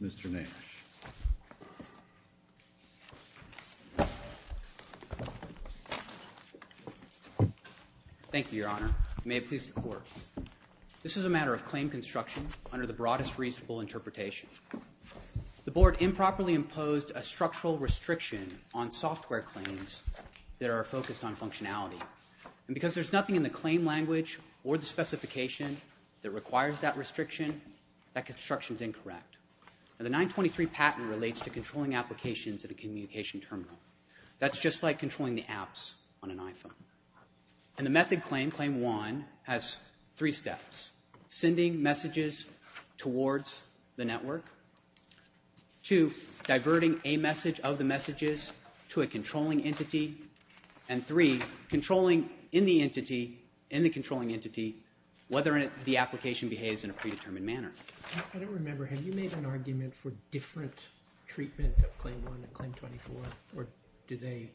Mr. Nash. Thank you, your honor. May it please the court. This is a matter of claim construction under the broadest reasonable interpretation. The board improperly imposed a structural restriction on software claims that are focused on functionality. And because there's nothing in the claim language or the specification that requires that restriction, that construction is incorrect. The 923 patent relates to controlling applications at a communication terminal. That's just like controlling the apps on an iPhone. And the method claim, claim one, has three steps. Sending messages towards the network. Two, diverting a message of the messages to a controlling entity. And three, controlling in the entity, in the controlling entity, whether the application behaves in a predetermined manner. I don't remember. Have you made an argument for different treatment of claim one and claim 24? Or do they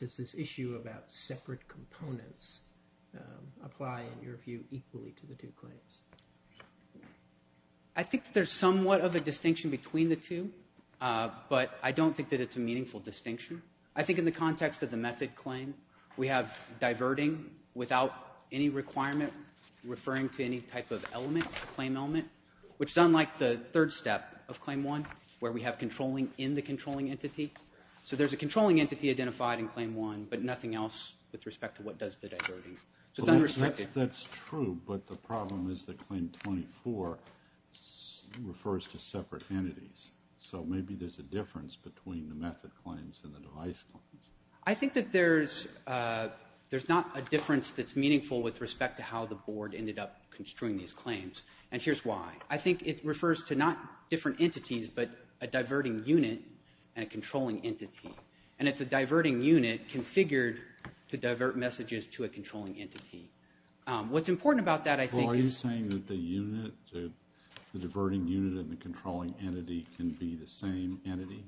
do this issue about separate components apply in your view equally to the two claims? I think there's somewhat of a distinction between the two. But I don't think that it's a meaningful distinction. I think in the context of the method claim, we have diverting without any requirement referring to any type of element, claim element. Which is unlike the third step of claim one, where we have controlling in the controlling entity. So there's a controlling entity identified in claim one, but nothing else with respect to what does the diverting. So it's unrestricted. That's true. But the problem is that claim 24 refers to separate entities. So maybe there's a difference between the method claims and the device claims. I think that there's not a difference that's meaningful with respect to how the board ended up construing these claims. And here's why. I think it refers to not different entities, but a diverting unit and a controlling entity. And it's a diverting unit configured to divert messages to a controlling entity. What's important about that, I think, is... A diverting unit and a controlling entity can be the same entity?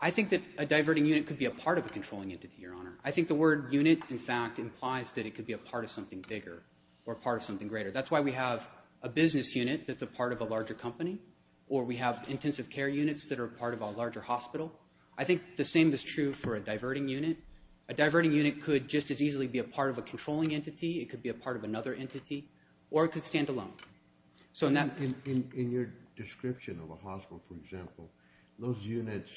I think that a diverting unit could be a part of a controlling entity, Your Honor. I think the word unit, in fact, implies that it could be a part of something bigger or part of something greater. That's why we have a business unit that's a part of a larger company. Or we have intensive care units that are part of a larger hospital. I think the same is true for a diverting unit. A diverting unit could just as easily be a part of a controlling entity. It could be a part of another entity. Or it could stand alone. In your description of a hospital, for example, those units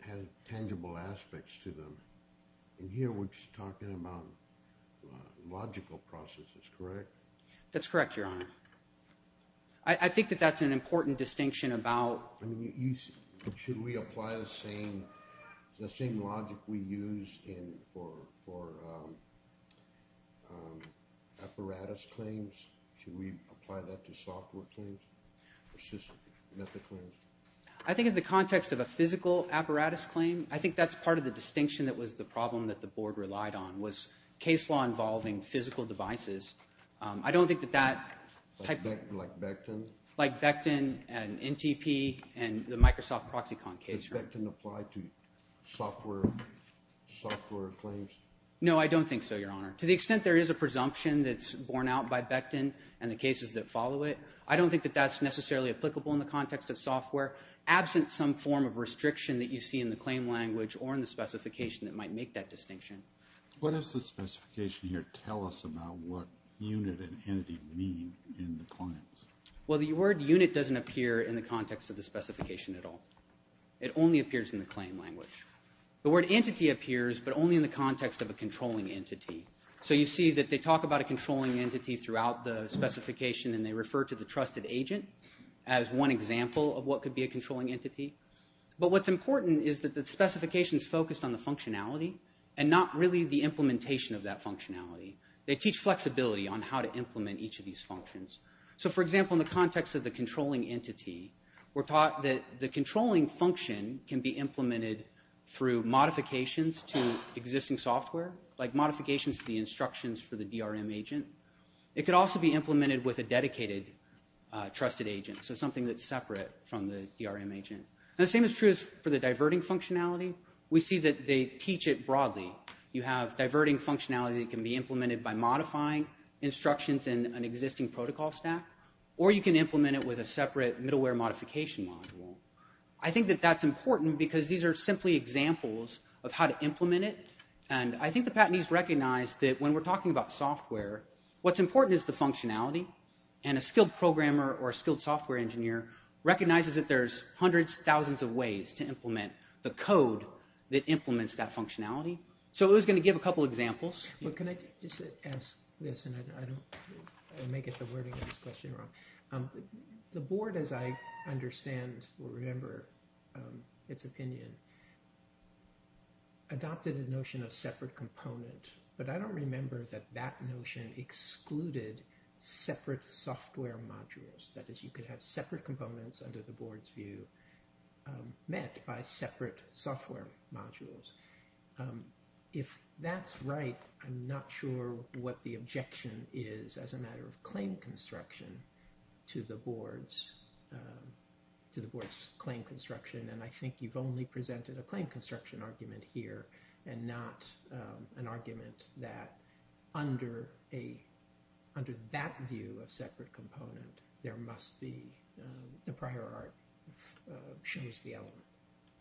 have tangible aspects to them. And here we're just talking about logical processes, correct? That's correct, Your Honor. I think that that's an important distinction about... Should we apply the same logic we use for apparatus claims? Should we apply that to software claims? I think in the context of a physical apparatus claim, I think that's part of the distinction that was the problem that the Board relied on, was case law involving physical devices. I don't think that that... Like Becton? Like Becton and NTP and the Microsoft ProxyCon case. Does Becton apply to software claims? No, I don't think so, Your Honor. To the extent there is a presumption that's borne out by Becton and the cases that follow it, I don't think that that's necessarily applicable in the context of software, absent some form of restriction that you see in the claim language or in the specification that might make that distinction. What does the specification here tell us about what unit and entity mean in the claims? Well, the word unit doesn't appear in the context of the specification at all. It only appears in the claim language. The word entity appears, but only in the context of a controlling entity. So you see that they talk about a controlling entity throughout the specification and they refer to the trusted agent as one example of what could be a controlling entity. But what's important is that the specification is focused on the functionality and not really the implementation of that functionality. They teach flexibility on how to implement each of these functions. So, for example, in the context of the controlling entity, we're taught that the controlling function can be implemented through modifications to existing software, like modifications to the instructions for the DRM agent. It could also be implemented with a dedicated trusted agent, so something that's separate from the DRM agent. The same is true for the diverting functionality. We see that they teach it broadly. You have diverting functionality that can be implemented by modifying instructions in an existing protocol stack, or you can implement it with a separate middleware modification module. I think that that's important because these are simply examples of how to implement it, and I think the patentees recognize that when we're talking about software, what's important is the functionality. And a skilled programmer or a skilled software engineer recognizes that there's hundreds, thousands of ways to implement the code that implements that functionality. So I was going to give a couple examples. Can I just ask this, and I may get the wording of this question wrong. The board, as I understand or remember its opinion, adopted a notion of separate component, but I don't remember that that notion excluded separate software modules. That is, you could have separate components under the board's view met by separate software modules. If that's right, I'm not sure what the objection is as a matter of claim construction to the board's claim construction, and I think you've only presented a claim construction argument here and not an argument that under that view of separate component, there must be the prior art shows the element.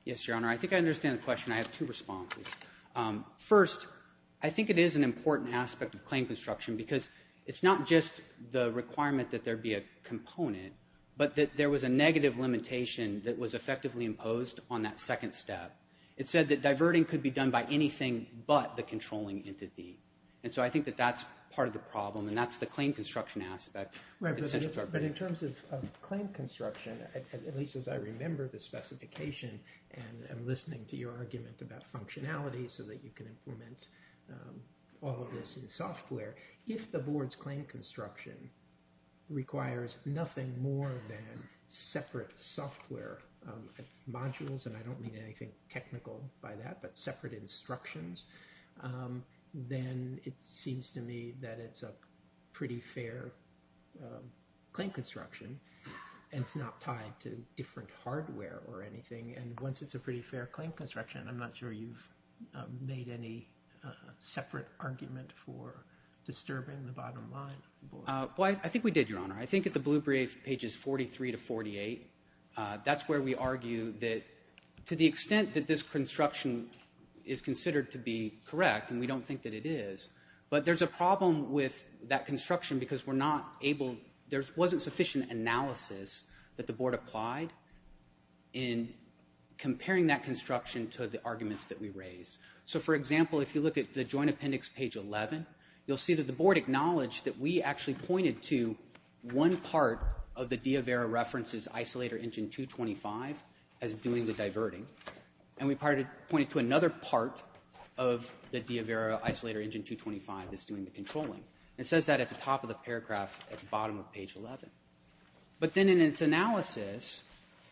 Yes, Your Honor, I think I understand the question. I have two responses. First, I think it is an important aspect of claim construction because it's not just the requirement that there be a component, but that there was a negative limitation that was effectively imposed on that second step. It said that diverting could be done by anything but the controlling entity, and so I think that that's part of the problem and that's the claim construction aspect. But in terms of claim construction, at least as I remember the specification and I'm listening to your argument about functionality so that you can implement all of this in software, if the board's claim construction requires nothing more than separate software modules, and I don't mean anything technical by that, but separate instructions, then it seems to me that it's a pretty fair claim construction and it's not tied to different hardware or anything, and once it's a pretty fair claim construction, I'm not sure you've made any separate argument for disturbing the bottom line. Well, I think we did, Your Honor. I think at the blue brief, pages 43 to 48, that's where we argue that to the extent that this construction is considered to be correct, and we don't think that it is, but there's a problem with that construction because we're not able... There wasn't sufficient analysis that the board applied in comparing that construction to the arguments that we raised. So, for example, if you look at the Joint Appendix, page 11, you'll see that the board acknowledged that we actually pointed to one part of the Diavera References Isolator Engine 225 as doing the diverting, and we pointed to another part of the Diavera Isolator Engine 225 as doing the controlling. It says that at the top of the paragraph at the bottom of page 11. But then in its analysis,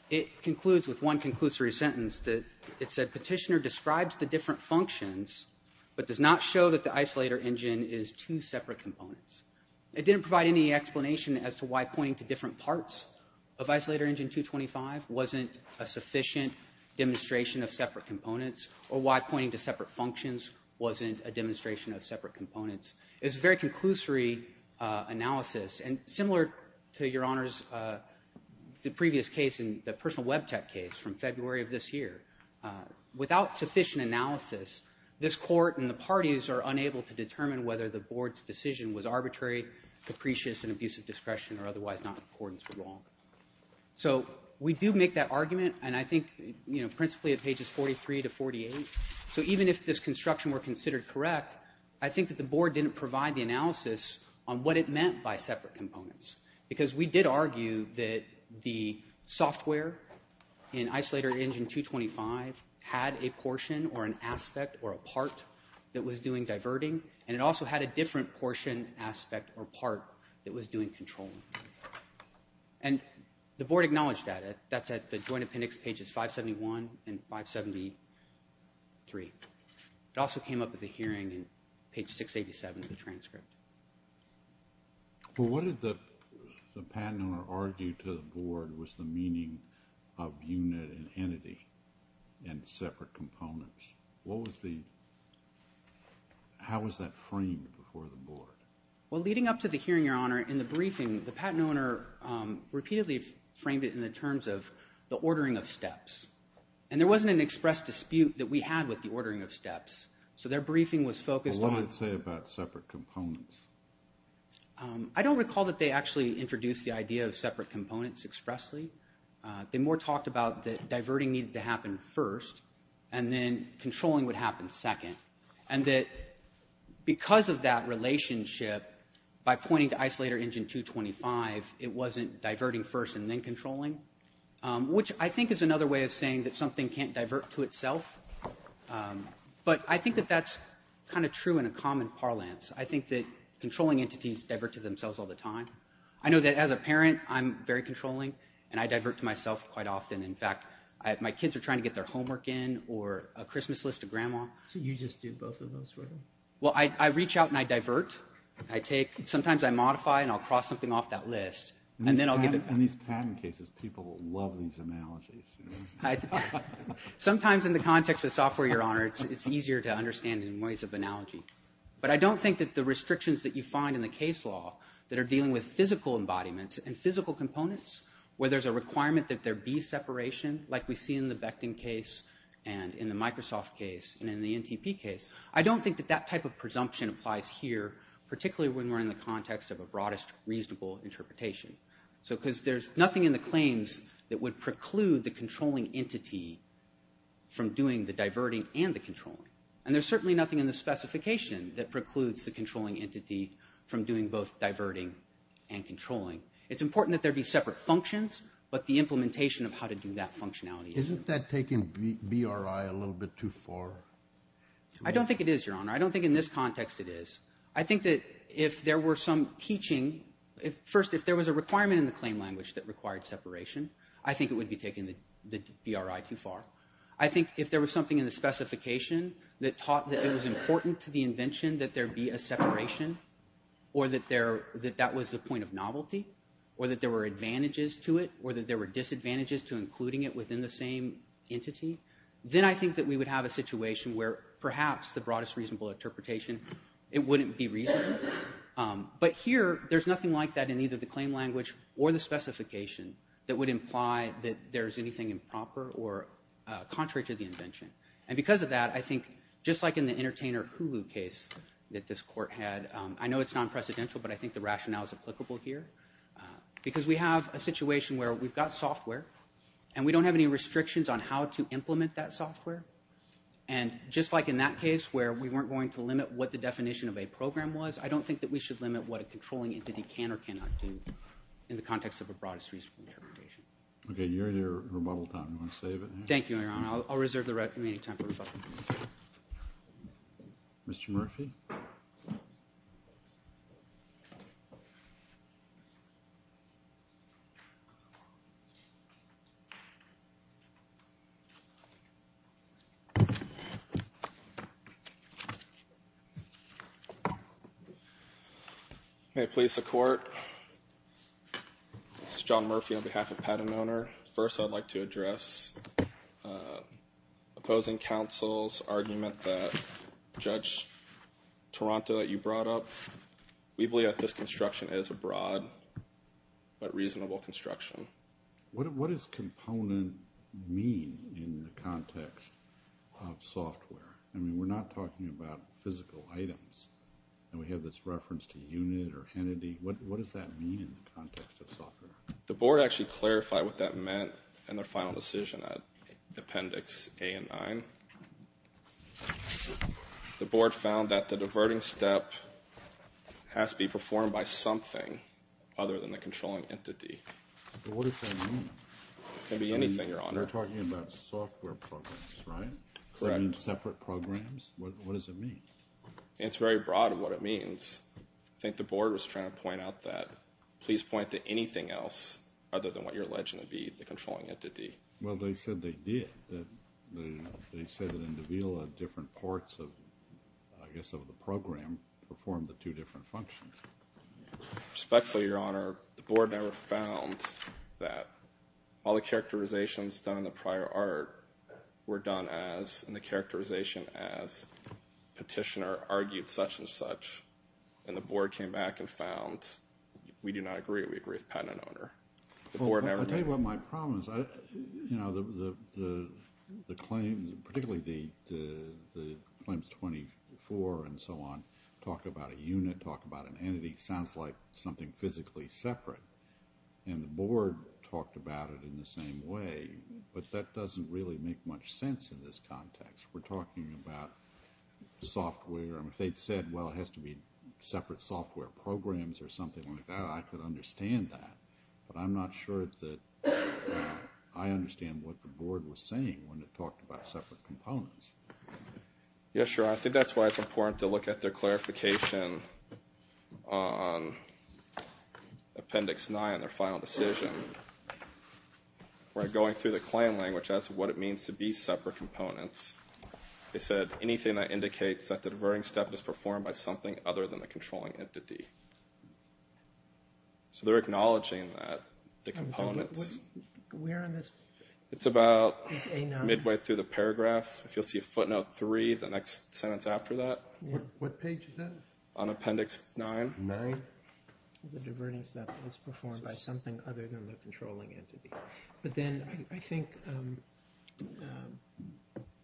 it concludes with one conclusory sentence that it said, Petitioner describes the different functions but does not show that the isolator engine is two separate components. It didn't provide any explanation as to why pointing to different parts of Isolator Engine 225 wasn't a sufficient demonstration of separate components, or why pointing to separate functions wasn't a demonstration of separate components. It's a very conclusory analysis, and similar to, Your Honors, the previous case and the personal web tech case from February of this year. Without sufficient analysis, this court and the parties are unable to determine whether the board's decision was arbitrary, capricious, and abuse of discretion or otherwise not in accordance with law. So we do make that argument, and I think, you know, so even if this construction were considered correct, I think that the board didn't provide the analysis on what it meant by separate components, because we did argue that the software in Isolator Engine 225 had a portion or an aspect or a part that was doing diverting, and it also had a different portion, aspect, or part that was doing controlling. And the board acknowledged that. That's at the Joint Appendix pages 571 and 573. It also came up at the hearing in page 687 of the transcript. Well, what did the... the patent owner argue to the board was the meaning of unit and entity and separate components? What was the... How was that framed before the board? Well, leading up to the hearing, Your Honor, in the briefing, the patent owner repeatedly framed it in the terms of the ordering of steps. And there wasn't an expressed dispute that we had with the ordering of steps. So their briefing was focused on... I don't recall that they actually introduced the idea of separate components expressly. They more talked about that diverting needed to happen first and then controlling would happen second. And that because of that relationship, by pointing to Isolator Engine 225, it wasn't diverting first and then controlling, which I think is another way of saying that something can't divert to itself. But I think that that's kind of true in a common parlance. I think that controlling entities divert to themselves all the time. I know that as a parent, I'm very controlling and I divert to myself quite often. In fact, my kids are trying to get their homework in or a Christmas list to Grandma. So you just do both of those for them? Well, I reach out and I divert. I take... Sometimes I modify and I'll cross something off that list and then I'll get... In these patent cases, people love these analogies. I... Sometimes in the context of software, Your Honor, it's easier to understand in ways of analogy. But I don't think that the restrictions that you find in the case law that are dealing with physical embodiments and physical components where there's a requirement that there be separation like we see in the Becton case and in the Microsoft case and in the NTP case. I don't think that that type of presumption applies here, particularly when we're in the context of a broadest, reasonable interpretation. So, because there's nothing in the claims that would preclude the controlling entity from doing the diverting and the controlling. And there's certainly nothing in the specification that precludes the controlling entity from doing both diverting and controlling. It's important that there be separate functions but the implementation of how to do that functionality. Isn't that taking BRI a little bit too far? I don't think it is, Your Honor. I don't think in this context it is. I think that if there were some teaching... First, if there was a requirement in the claim language that required separation, I think it would be taking the BRI too far. I think if there was something in the specification that taught that it was important to the invention that there be a separation or that there... that that was the point of novelty or that there were advantages to it or that there were disadvantages to including it within the same entity, then I think that we would have a situation where perhaps the broadest, reasonable interpretation it wouldn't be reasonable. But here, there's nothing like that in either the claim language or the specification that would imply that there's anything improper or contrary to the invention. And because of that, I think just like in the Entertainer Hulu case that this court had, I know it's non-precedential but I think the rationale is applicable here because we have a situation where we've got software and we don't have any restrictions on how to implement that software and just like in that case where we weren't going to limit what the definition of a program was, I don't think that we should limit what a controlling entity can or cannot do in the context of a broadest, reasonable interpretation. Okay. You're here rebuttal time. Do you want to save it? Thank you, Your Honor. I'll reserve the remaining time for rebuttal. Mr. Murphy? Okay. Please support. This is John Murphy on behalf of PatentOwner. First, I'd like to address opposing counsel's argument that Judge Taranto that you brought up, we believe that this construction is a broad but reasonable construction. in the context of software? I mean, we're not talking about physical items and we have this reference to unit or entity and we're not talking about physical items or entity. What does that mean in the context of software? The board actually clarified what that meant in their final decision at Appendix A and 9. The board found that the diverting step has to be performed by something other than the controlling entity. What does that mean? It can be anything, Your Honor. We're talking about software programs, right? Does that mean separate programs? What does it mean? It's very broad what it means. I think the board was trying to point out that please point to anything else other than what you're alleging to be the controlling entity. Well, they said they did. They said that in Davila different parts of the program performed the two different functions. Respectfully, Your Honor, the board never found that all the characterizations done in the prior art were done as in the characterization as petitioner argued such and such and the board came back and found we do not agree with patent owner. I'll tell you what my problem is. You know, the claim, particularly the claims 24 and so on talk about a unit, talk about an entity sounds like something physically separate and the board talked about it in the same way but that doesn't really make much sense in this context. We're talking about software and if they'd said, well, it has to be separate software programs or something like that, I could understand that but I'm not sure that I understand what the board was saying when it talked about separate components. Yeah, sure, I think that's why it's important to look at their clarification on Appendix 9, their final decision where going through the claim language as to what it means to be separate components they said anything that indicates that the diverting step is performed by something other than the controlling entity. But then I think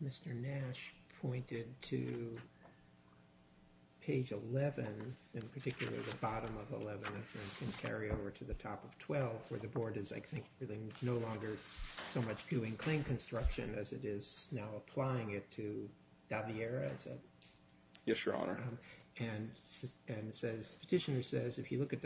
Mr. Nash pointed to page 11 in particular the bottom to the top of 12 where the board is I think no longer so much doing claim construction and the diverting step is performed by something other than the controlling entity. So I think it's important as a separate it's important to look at that as a separate component and I think it's important to look at that as a separate component but I think it's important to look at the diverting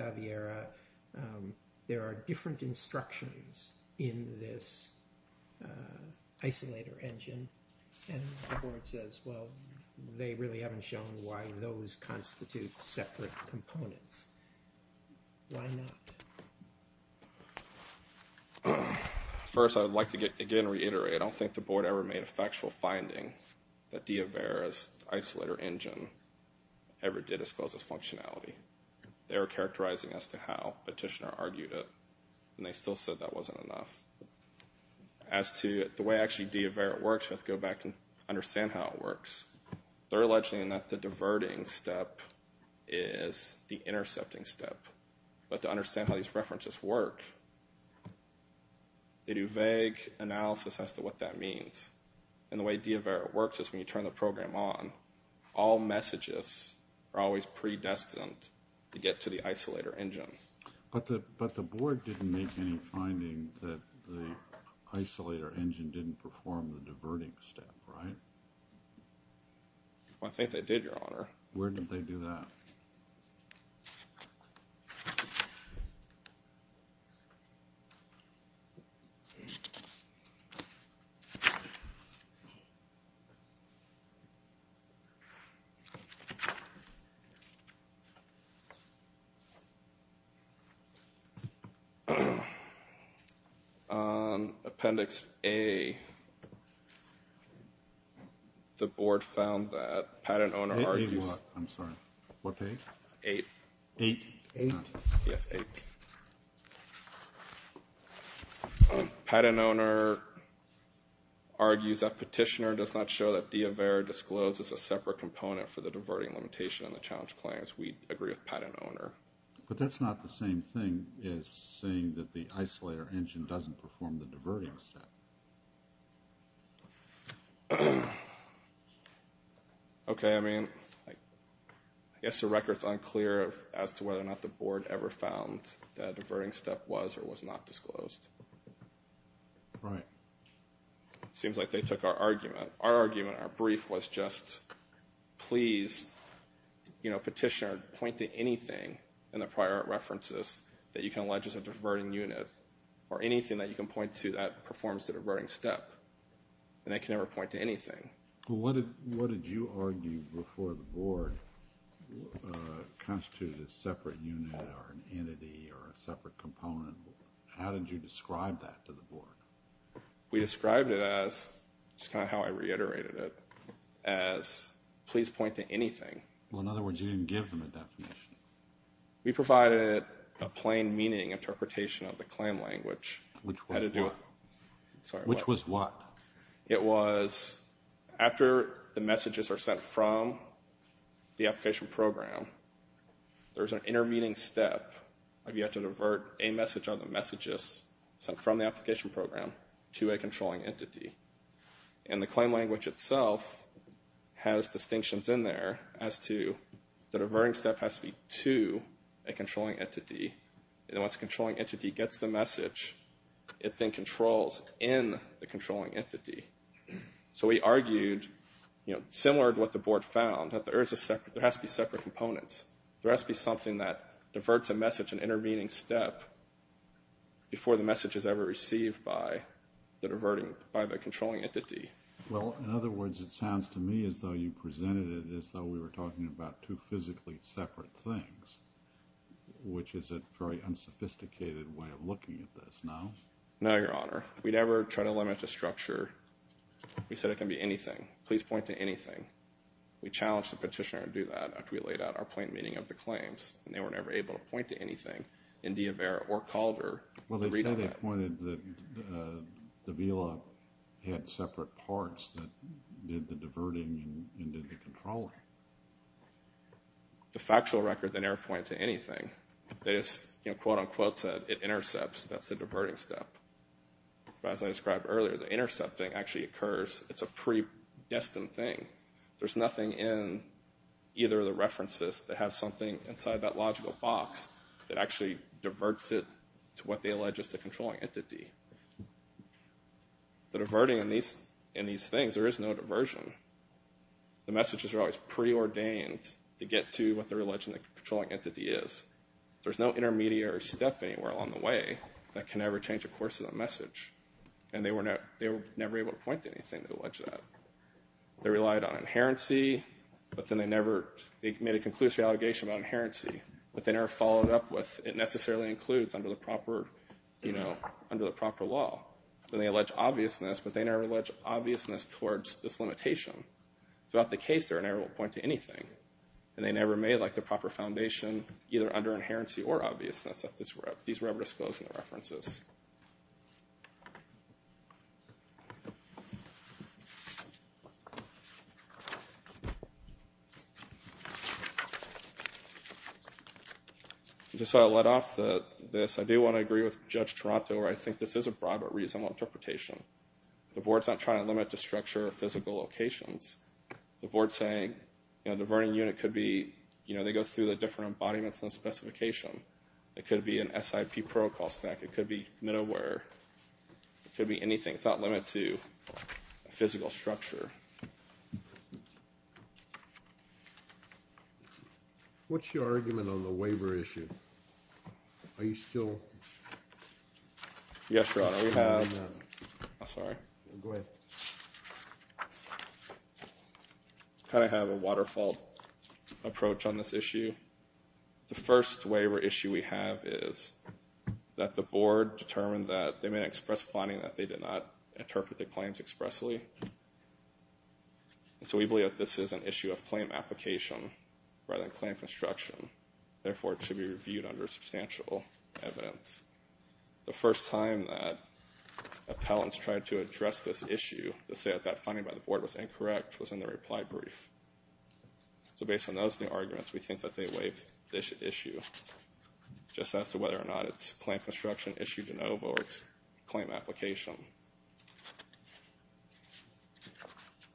step is the intercepting step but to understand how these references work they do vague analysis as to what that means and the way Diavera works is when you turn the program on all messages are always predestined to get to the isolator engine. But the board didn't make any finding that the isolator engine didn't perform the diverting step, right? I think they did, Your Honor. Where did they do that? On Appendix A the board found that patent owner argues I'm sorry. What page? Eight. Eight? Eight. Yes, eight. Patent owner argues that petitioner does not show that Diavera discloses a separate component for the diverting limitation on the challenge claims. We agree with patent owner. But that's not the same thing as saying that the isolator engine doesn't perform the diverting step. Okay, I mean, I guess the record's unclear as to whether or not the board ever found that diverting step was or was not disclosed. Right. Seems like they took our argument. Our argument, our brief, was just please, you know, petitioner, point to anything in the prior references that you can allege is a diverting unit or anything that you can point to that performs the diverting step. And they can never point to anything. What did you argue before the board constituted a separate unit or an entity or a separate component? How did you describe that to the board? We described it as, which is kind of how I reiterated it, as please point to anything. Well, in other words, you didn't give them a definition. We provided a plain meaning interpretation of the claim language. Which was what? Sorry, what? It was, after the messages are sent from the application program, there's an intermeeting step where you have to divert a message or the messages sent from the application program to a controlling entity. And the claim language itself has distinctions in there as to the diverting step has to be to a controlling entity. And once the controlling entity gets the message, it then controls in the controlling entity. So we argued, similar to what the board found, that there has to be separate components. There has to be something that diverts a message, an intervening step, before the message is ever received by the controlling entity. Well, in other words, it sounds to me as though you presented it as though we were talking about two physically separate things. Which is a very unsophisticated way of looking at this. No? No, Your Honor. We never try to limit the structure. We said it can be anything. Please point to anything. We challenged the petitioner to do that after we laid out our plain meaning of the claims. And they were never able to point to anything in Diavera or Calder. Well, they said they pointed that the VILA had separate parts that did the diverting and did the controlling. The factual record didn't ever point to anything. They just, you know, quote-unquote said it intercepts, that's the diverting step. But as I described earlier, the intercepting actually occurs, it's a predestined thing. There's nothing in either of the references that have something inside that logical box that actually diverts it to what they allege is the controlling entity. The diverting in these things, there is no diversion. The messages are always preordained to get to what they're alleging the controlling entity is. There's no intermediary step anywhere along the way that can ever change the course of the message. And they were never able to point to anything to allege that. They relied on inherency, but then they never, they made a conclusive allegation about inherency, but they never followed up with it necessarily includes under the proper, you know, under the proper law. Then they allege obviousness, but they never allege obviousness towards this limitation. Throughout the case, they were never able to point to anything. And they never made the proper foundation either under inherency or obviousness that these were ever disclosed in the references. Just so I let off this, I do want to agree with Judge Toronto where I think this is a broad but reasonable interpretation. The Board's not trying to limit the structure of physical locations. The Board's saying, you know, the diverting unit could be, you know, they go through the different embodiments in the specification. It could be an SIP protocol stack. It could be middleware. It could be anything. It's not limited to a physical structure. What's your argument on the waiver issue? Are you still... Yes, Your Honor. We have... I'm sorry. Go ahead. I kind of have a waterfall approach on this issue. The first waiver issue we have is that the Board determined that they may express finding that they did not interpret the claims expressly. And so we believe that this is an issue of claim application rather than claim construction. Therefore, it should be reviewed under substantial evidence. The first time that appellants tried to address this issue to say that that finding by the Board was incorrect was in the reply brief. So based on those new arguments, we think that they waive this issue just as to whether or not it's claim construction issue de novo or it's claim application.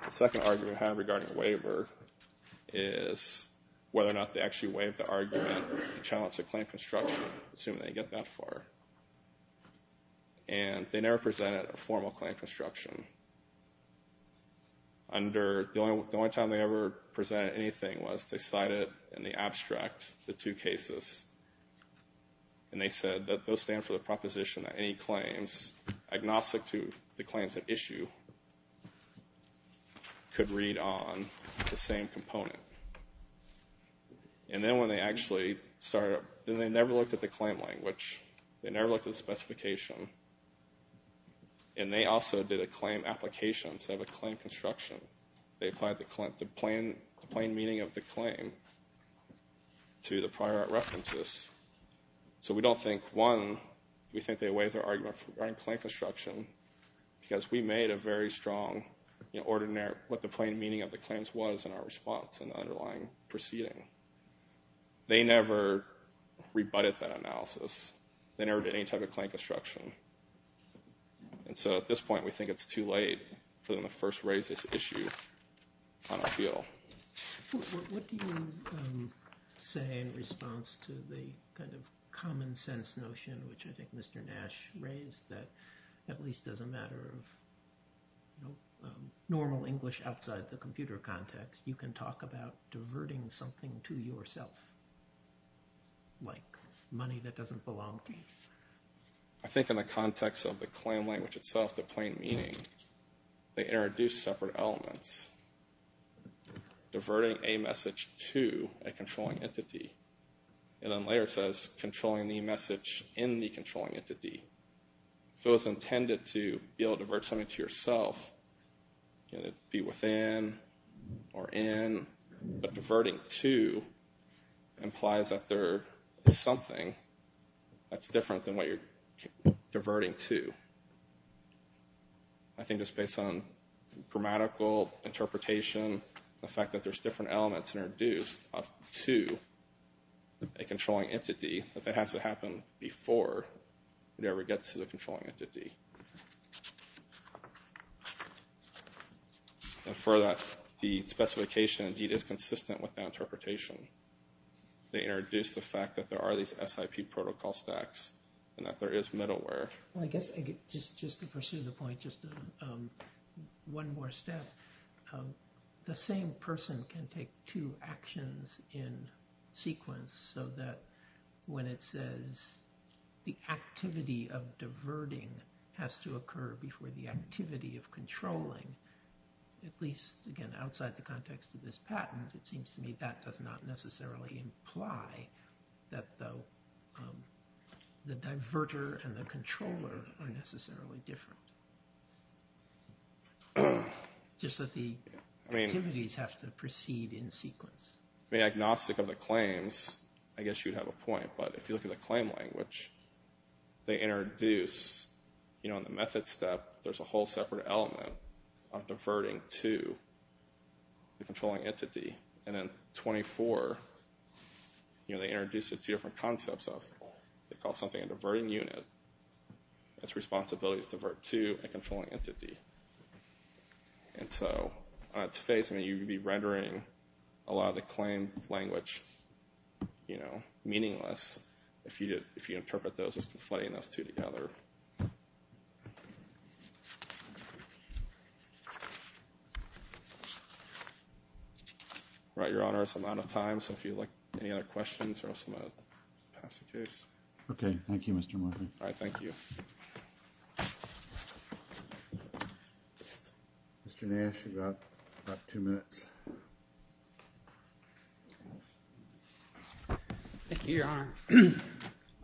The second argument we have regarding the waiver is whether or not they actually waived the argument to challenge the claim construction, assuming they get that far. And they never presented a formal claim construction. Under the only time they ever presented anything was they cited in the abstract the two cases and they said that those stand for the proposition that any claims agnostic to the claims at issue could read on the same component. And then when they actually started, they never looked at the claim language. They never looked at the specification. And they also did a claim application instead of a claim construction. They applied the plain meaning of the claim to the prior references. So we don't think, one, we think they waived their argument regarding claim construction because we made a very strong order in what the plain meaning of the claims was in our response in the underlying proceeding. They never rebutted that analysis. They never did any type of claim construction. And so at this point we think it's too late for them to first raise this issue on appeal. What do you say in response to the kind of common sense notion which I think Mr. Nash raised that at least as a matter of normal English outside the computer context you can talk about diverting something to yourself like money that doesn't belong to you? I think in the context of the claim language itself, the plain meaning, they introduced separate elements. Diverting a message to a controlling entity. And then later it says controlling the message in the controlling entity. If it was intended to be able to divert something to yourself, be within or in, but diverting to implies that there is something that's different than what you're diverting to. I think just based on grammatical interpretation, the fact that there's different elements introduced to a controlling entity, that that has to happen before it ever gets to the controlling entity. And for that, the specification is consistent with the interpretation. They introduced the fact that there are these SIP protocol stacks and that there is middleware. I guess just to pursue the point, just one more step. The same person can take two actions in sequence so that when it says the activity of diverting has to occur before the activity of controlling, at least, again, outside the context of this patent, it seems to me that does not necessarily imply that the diverter and the controller are necessarily different. Just that the activities have to proceed in sequence. I mean, agnostic of the claims, I guess you'd have a point, but if you look at the claim language, they introduce in the method step, there's a whole separate element of diverting to the controlling entity. And in 24, they introduce two different concepts. They call something a diverting unit. Its responsibility is to divert to a controlling entity. And so, on its face, you'd be rendering a lot of the claim language meaningless if you interpret those as conflating those two together. All right, Your Honor. I'm out of time, so if you'd like any other questions or else I'm going to pass the case. Okay. Thank you, Mr. Murphy. All right. Thank you. Mr. Nash, you've got about two minutes. Thank you, Your Honor.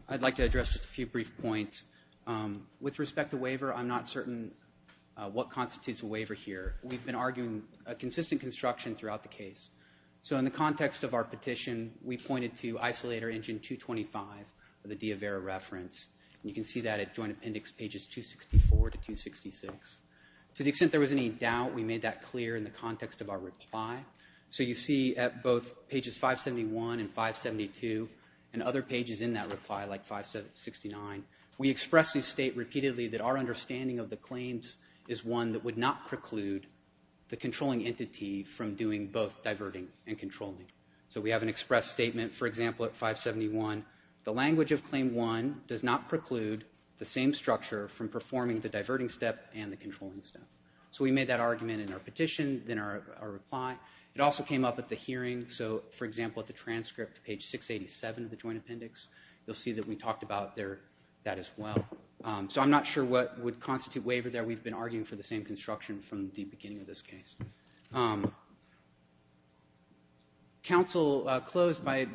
I'd like to address just a few brief points. With respect to waiver, I'm not certain what constitutes a waiver here. We've been arguing a consistent construction throughout the case. So in the context of our petition, we pointed to Isolator Engine 225 of the Diavera reference. You can see that at Joint Appendix pages 264 to 266. To the extent there was any doubt, we made that clear in the context of our reply. So you see at both pages 571 and 572 and other pages in that reply like 569, we express and state repeatedly that our understanding of the claims is one that would not preclude the controlling entity from doing both diverting and controlling. So we have an express statement, for example, at 571, the language of Claim 1 does not preclude the same structure from performing the diverting step and the controlling step. So we made that argument in our petition, then our reply. It also came up at the hearing. So, for example, at the transcript, page 687 of the Joint Appendix, you'll see that we talked about that as well. So I'm not sure what would constitute waiver there. We've been arguing for the same construction from the beginning of this case. Counsel closed by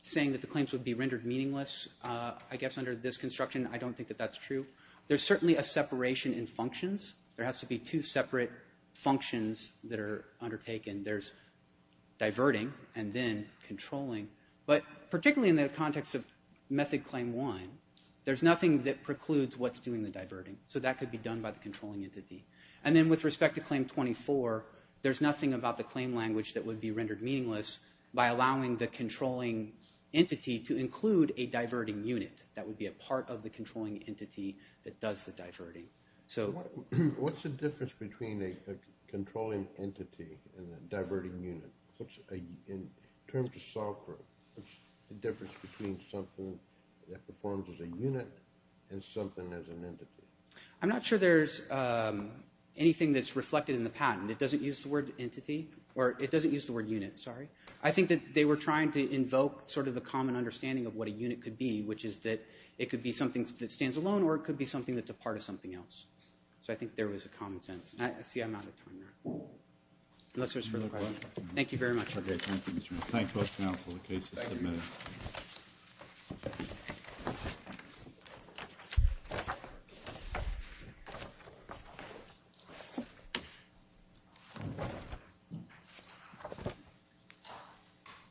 saying that the claims would be rendered meaningless. I guess under this construction, I don't think that that's true. There's certainly a separation in functions. There has to be two separate functions that are undertaken. There's diverting and then controlling. But particularly in the context of Method Claim 1, there's nothing that precludes what's doing the diverting. So that could be done by the controlling entity. And then with respect to Claim 24, there's nothing about the claim language that would be rendered meaningless by allowing the controlling entity to include a diverting unit that would be a part of the controlling entity that does the diverting. What's the difference between a controlling entity and a diverting unit? In terms of software, what's the difference between something that performs as a unit and something as an entity? I'm not sure there's anything that's reflected in the patent. It doesn't use the word entity, or it doesn't use the word unit, sorry. I think that they were trying to invoke sort of the common understanding of what a unit could be, which is that it could be something that stands alone, or it could be something that's a part of something else. So I think there was a common sense. See, I'm out of time now. Unless there's further questions. Thank you very much. Thank you.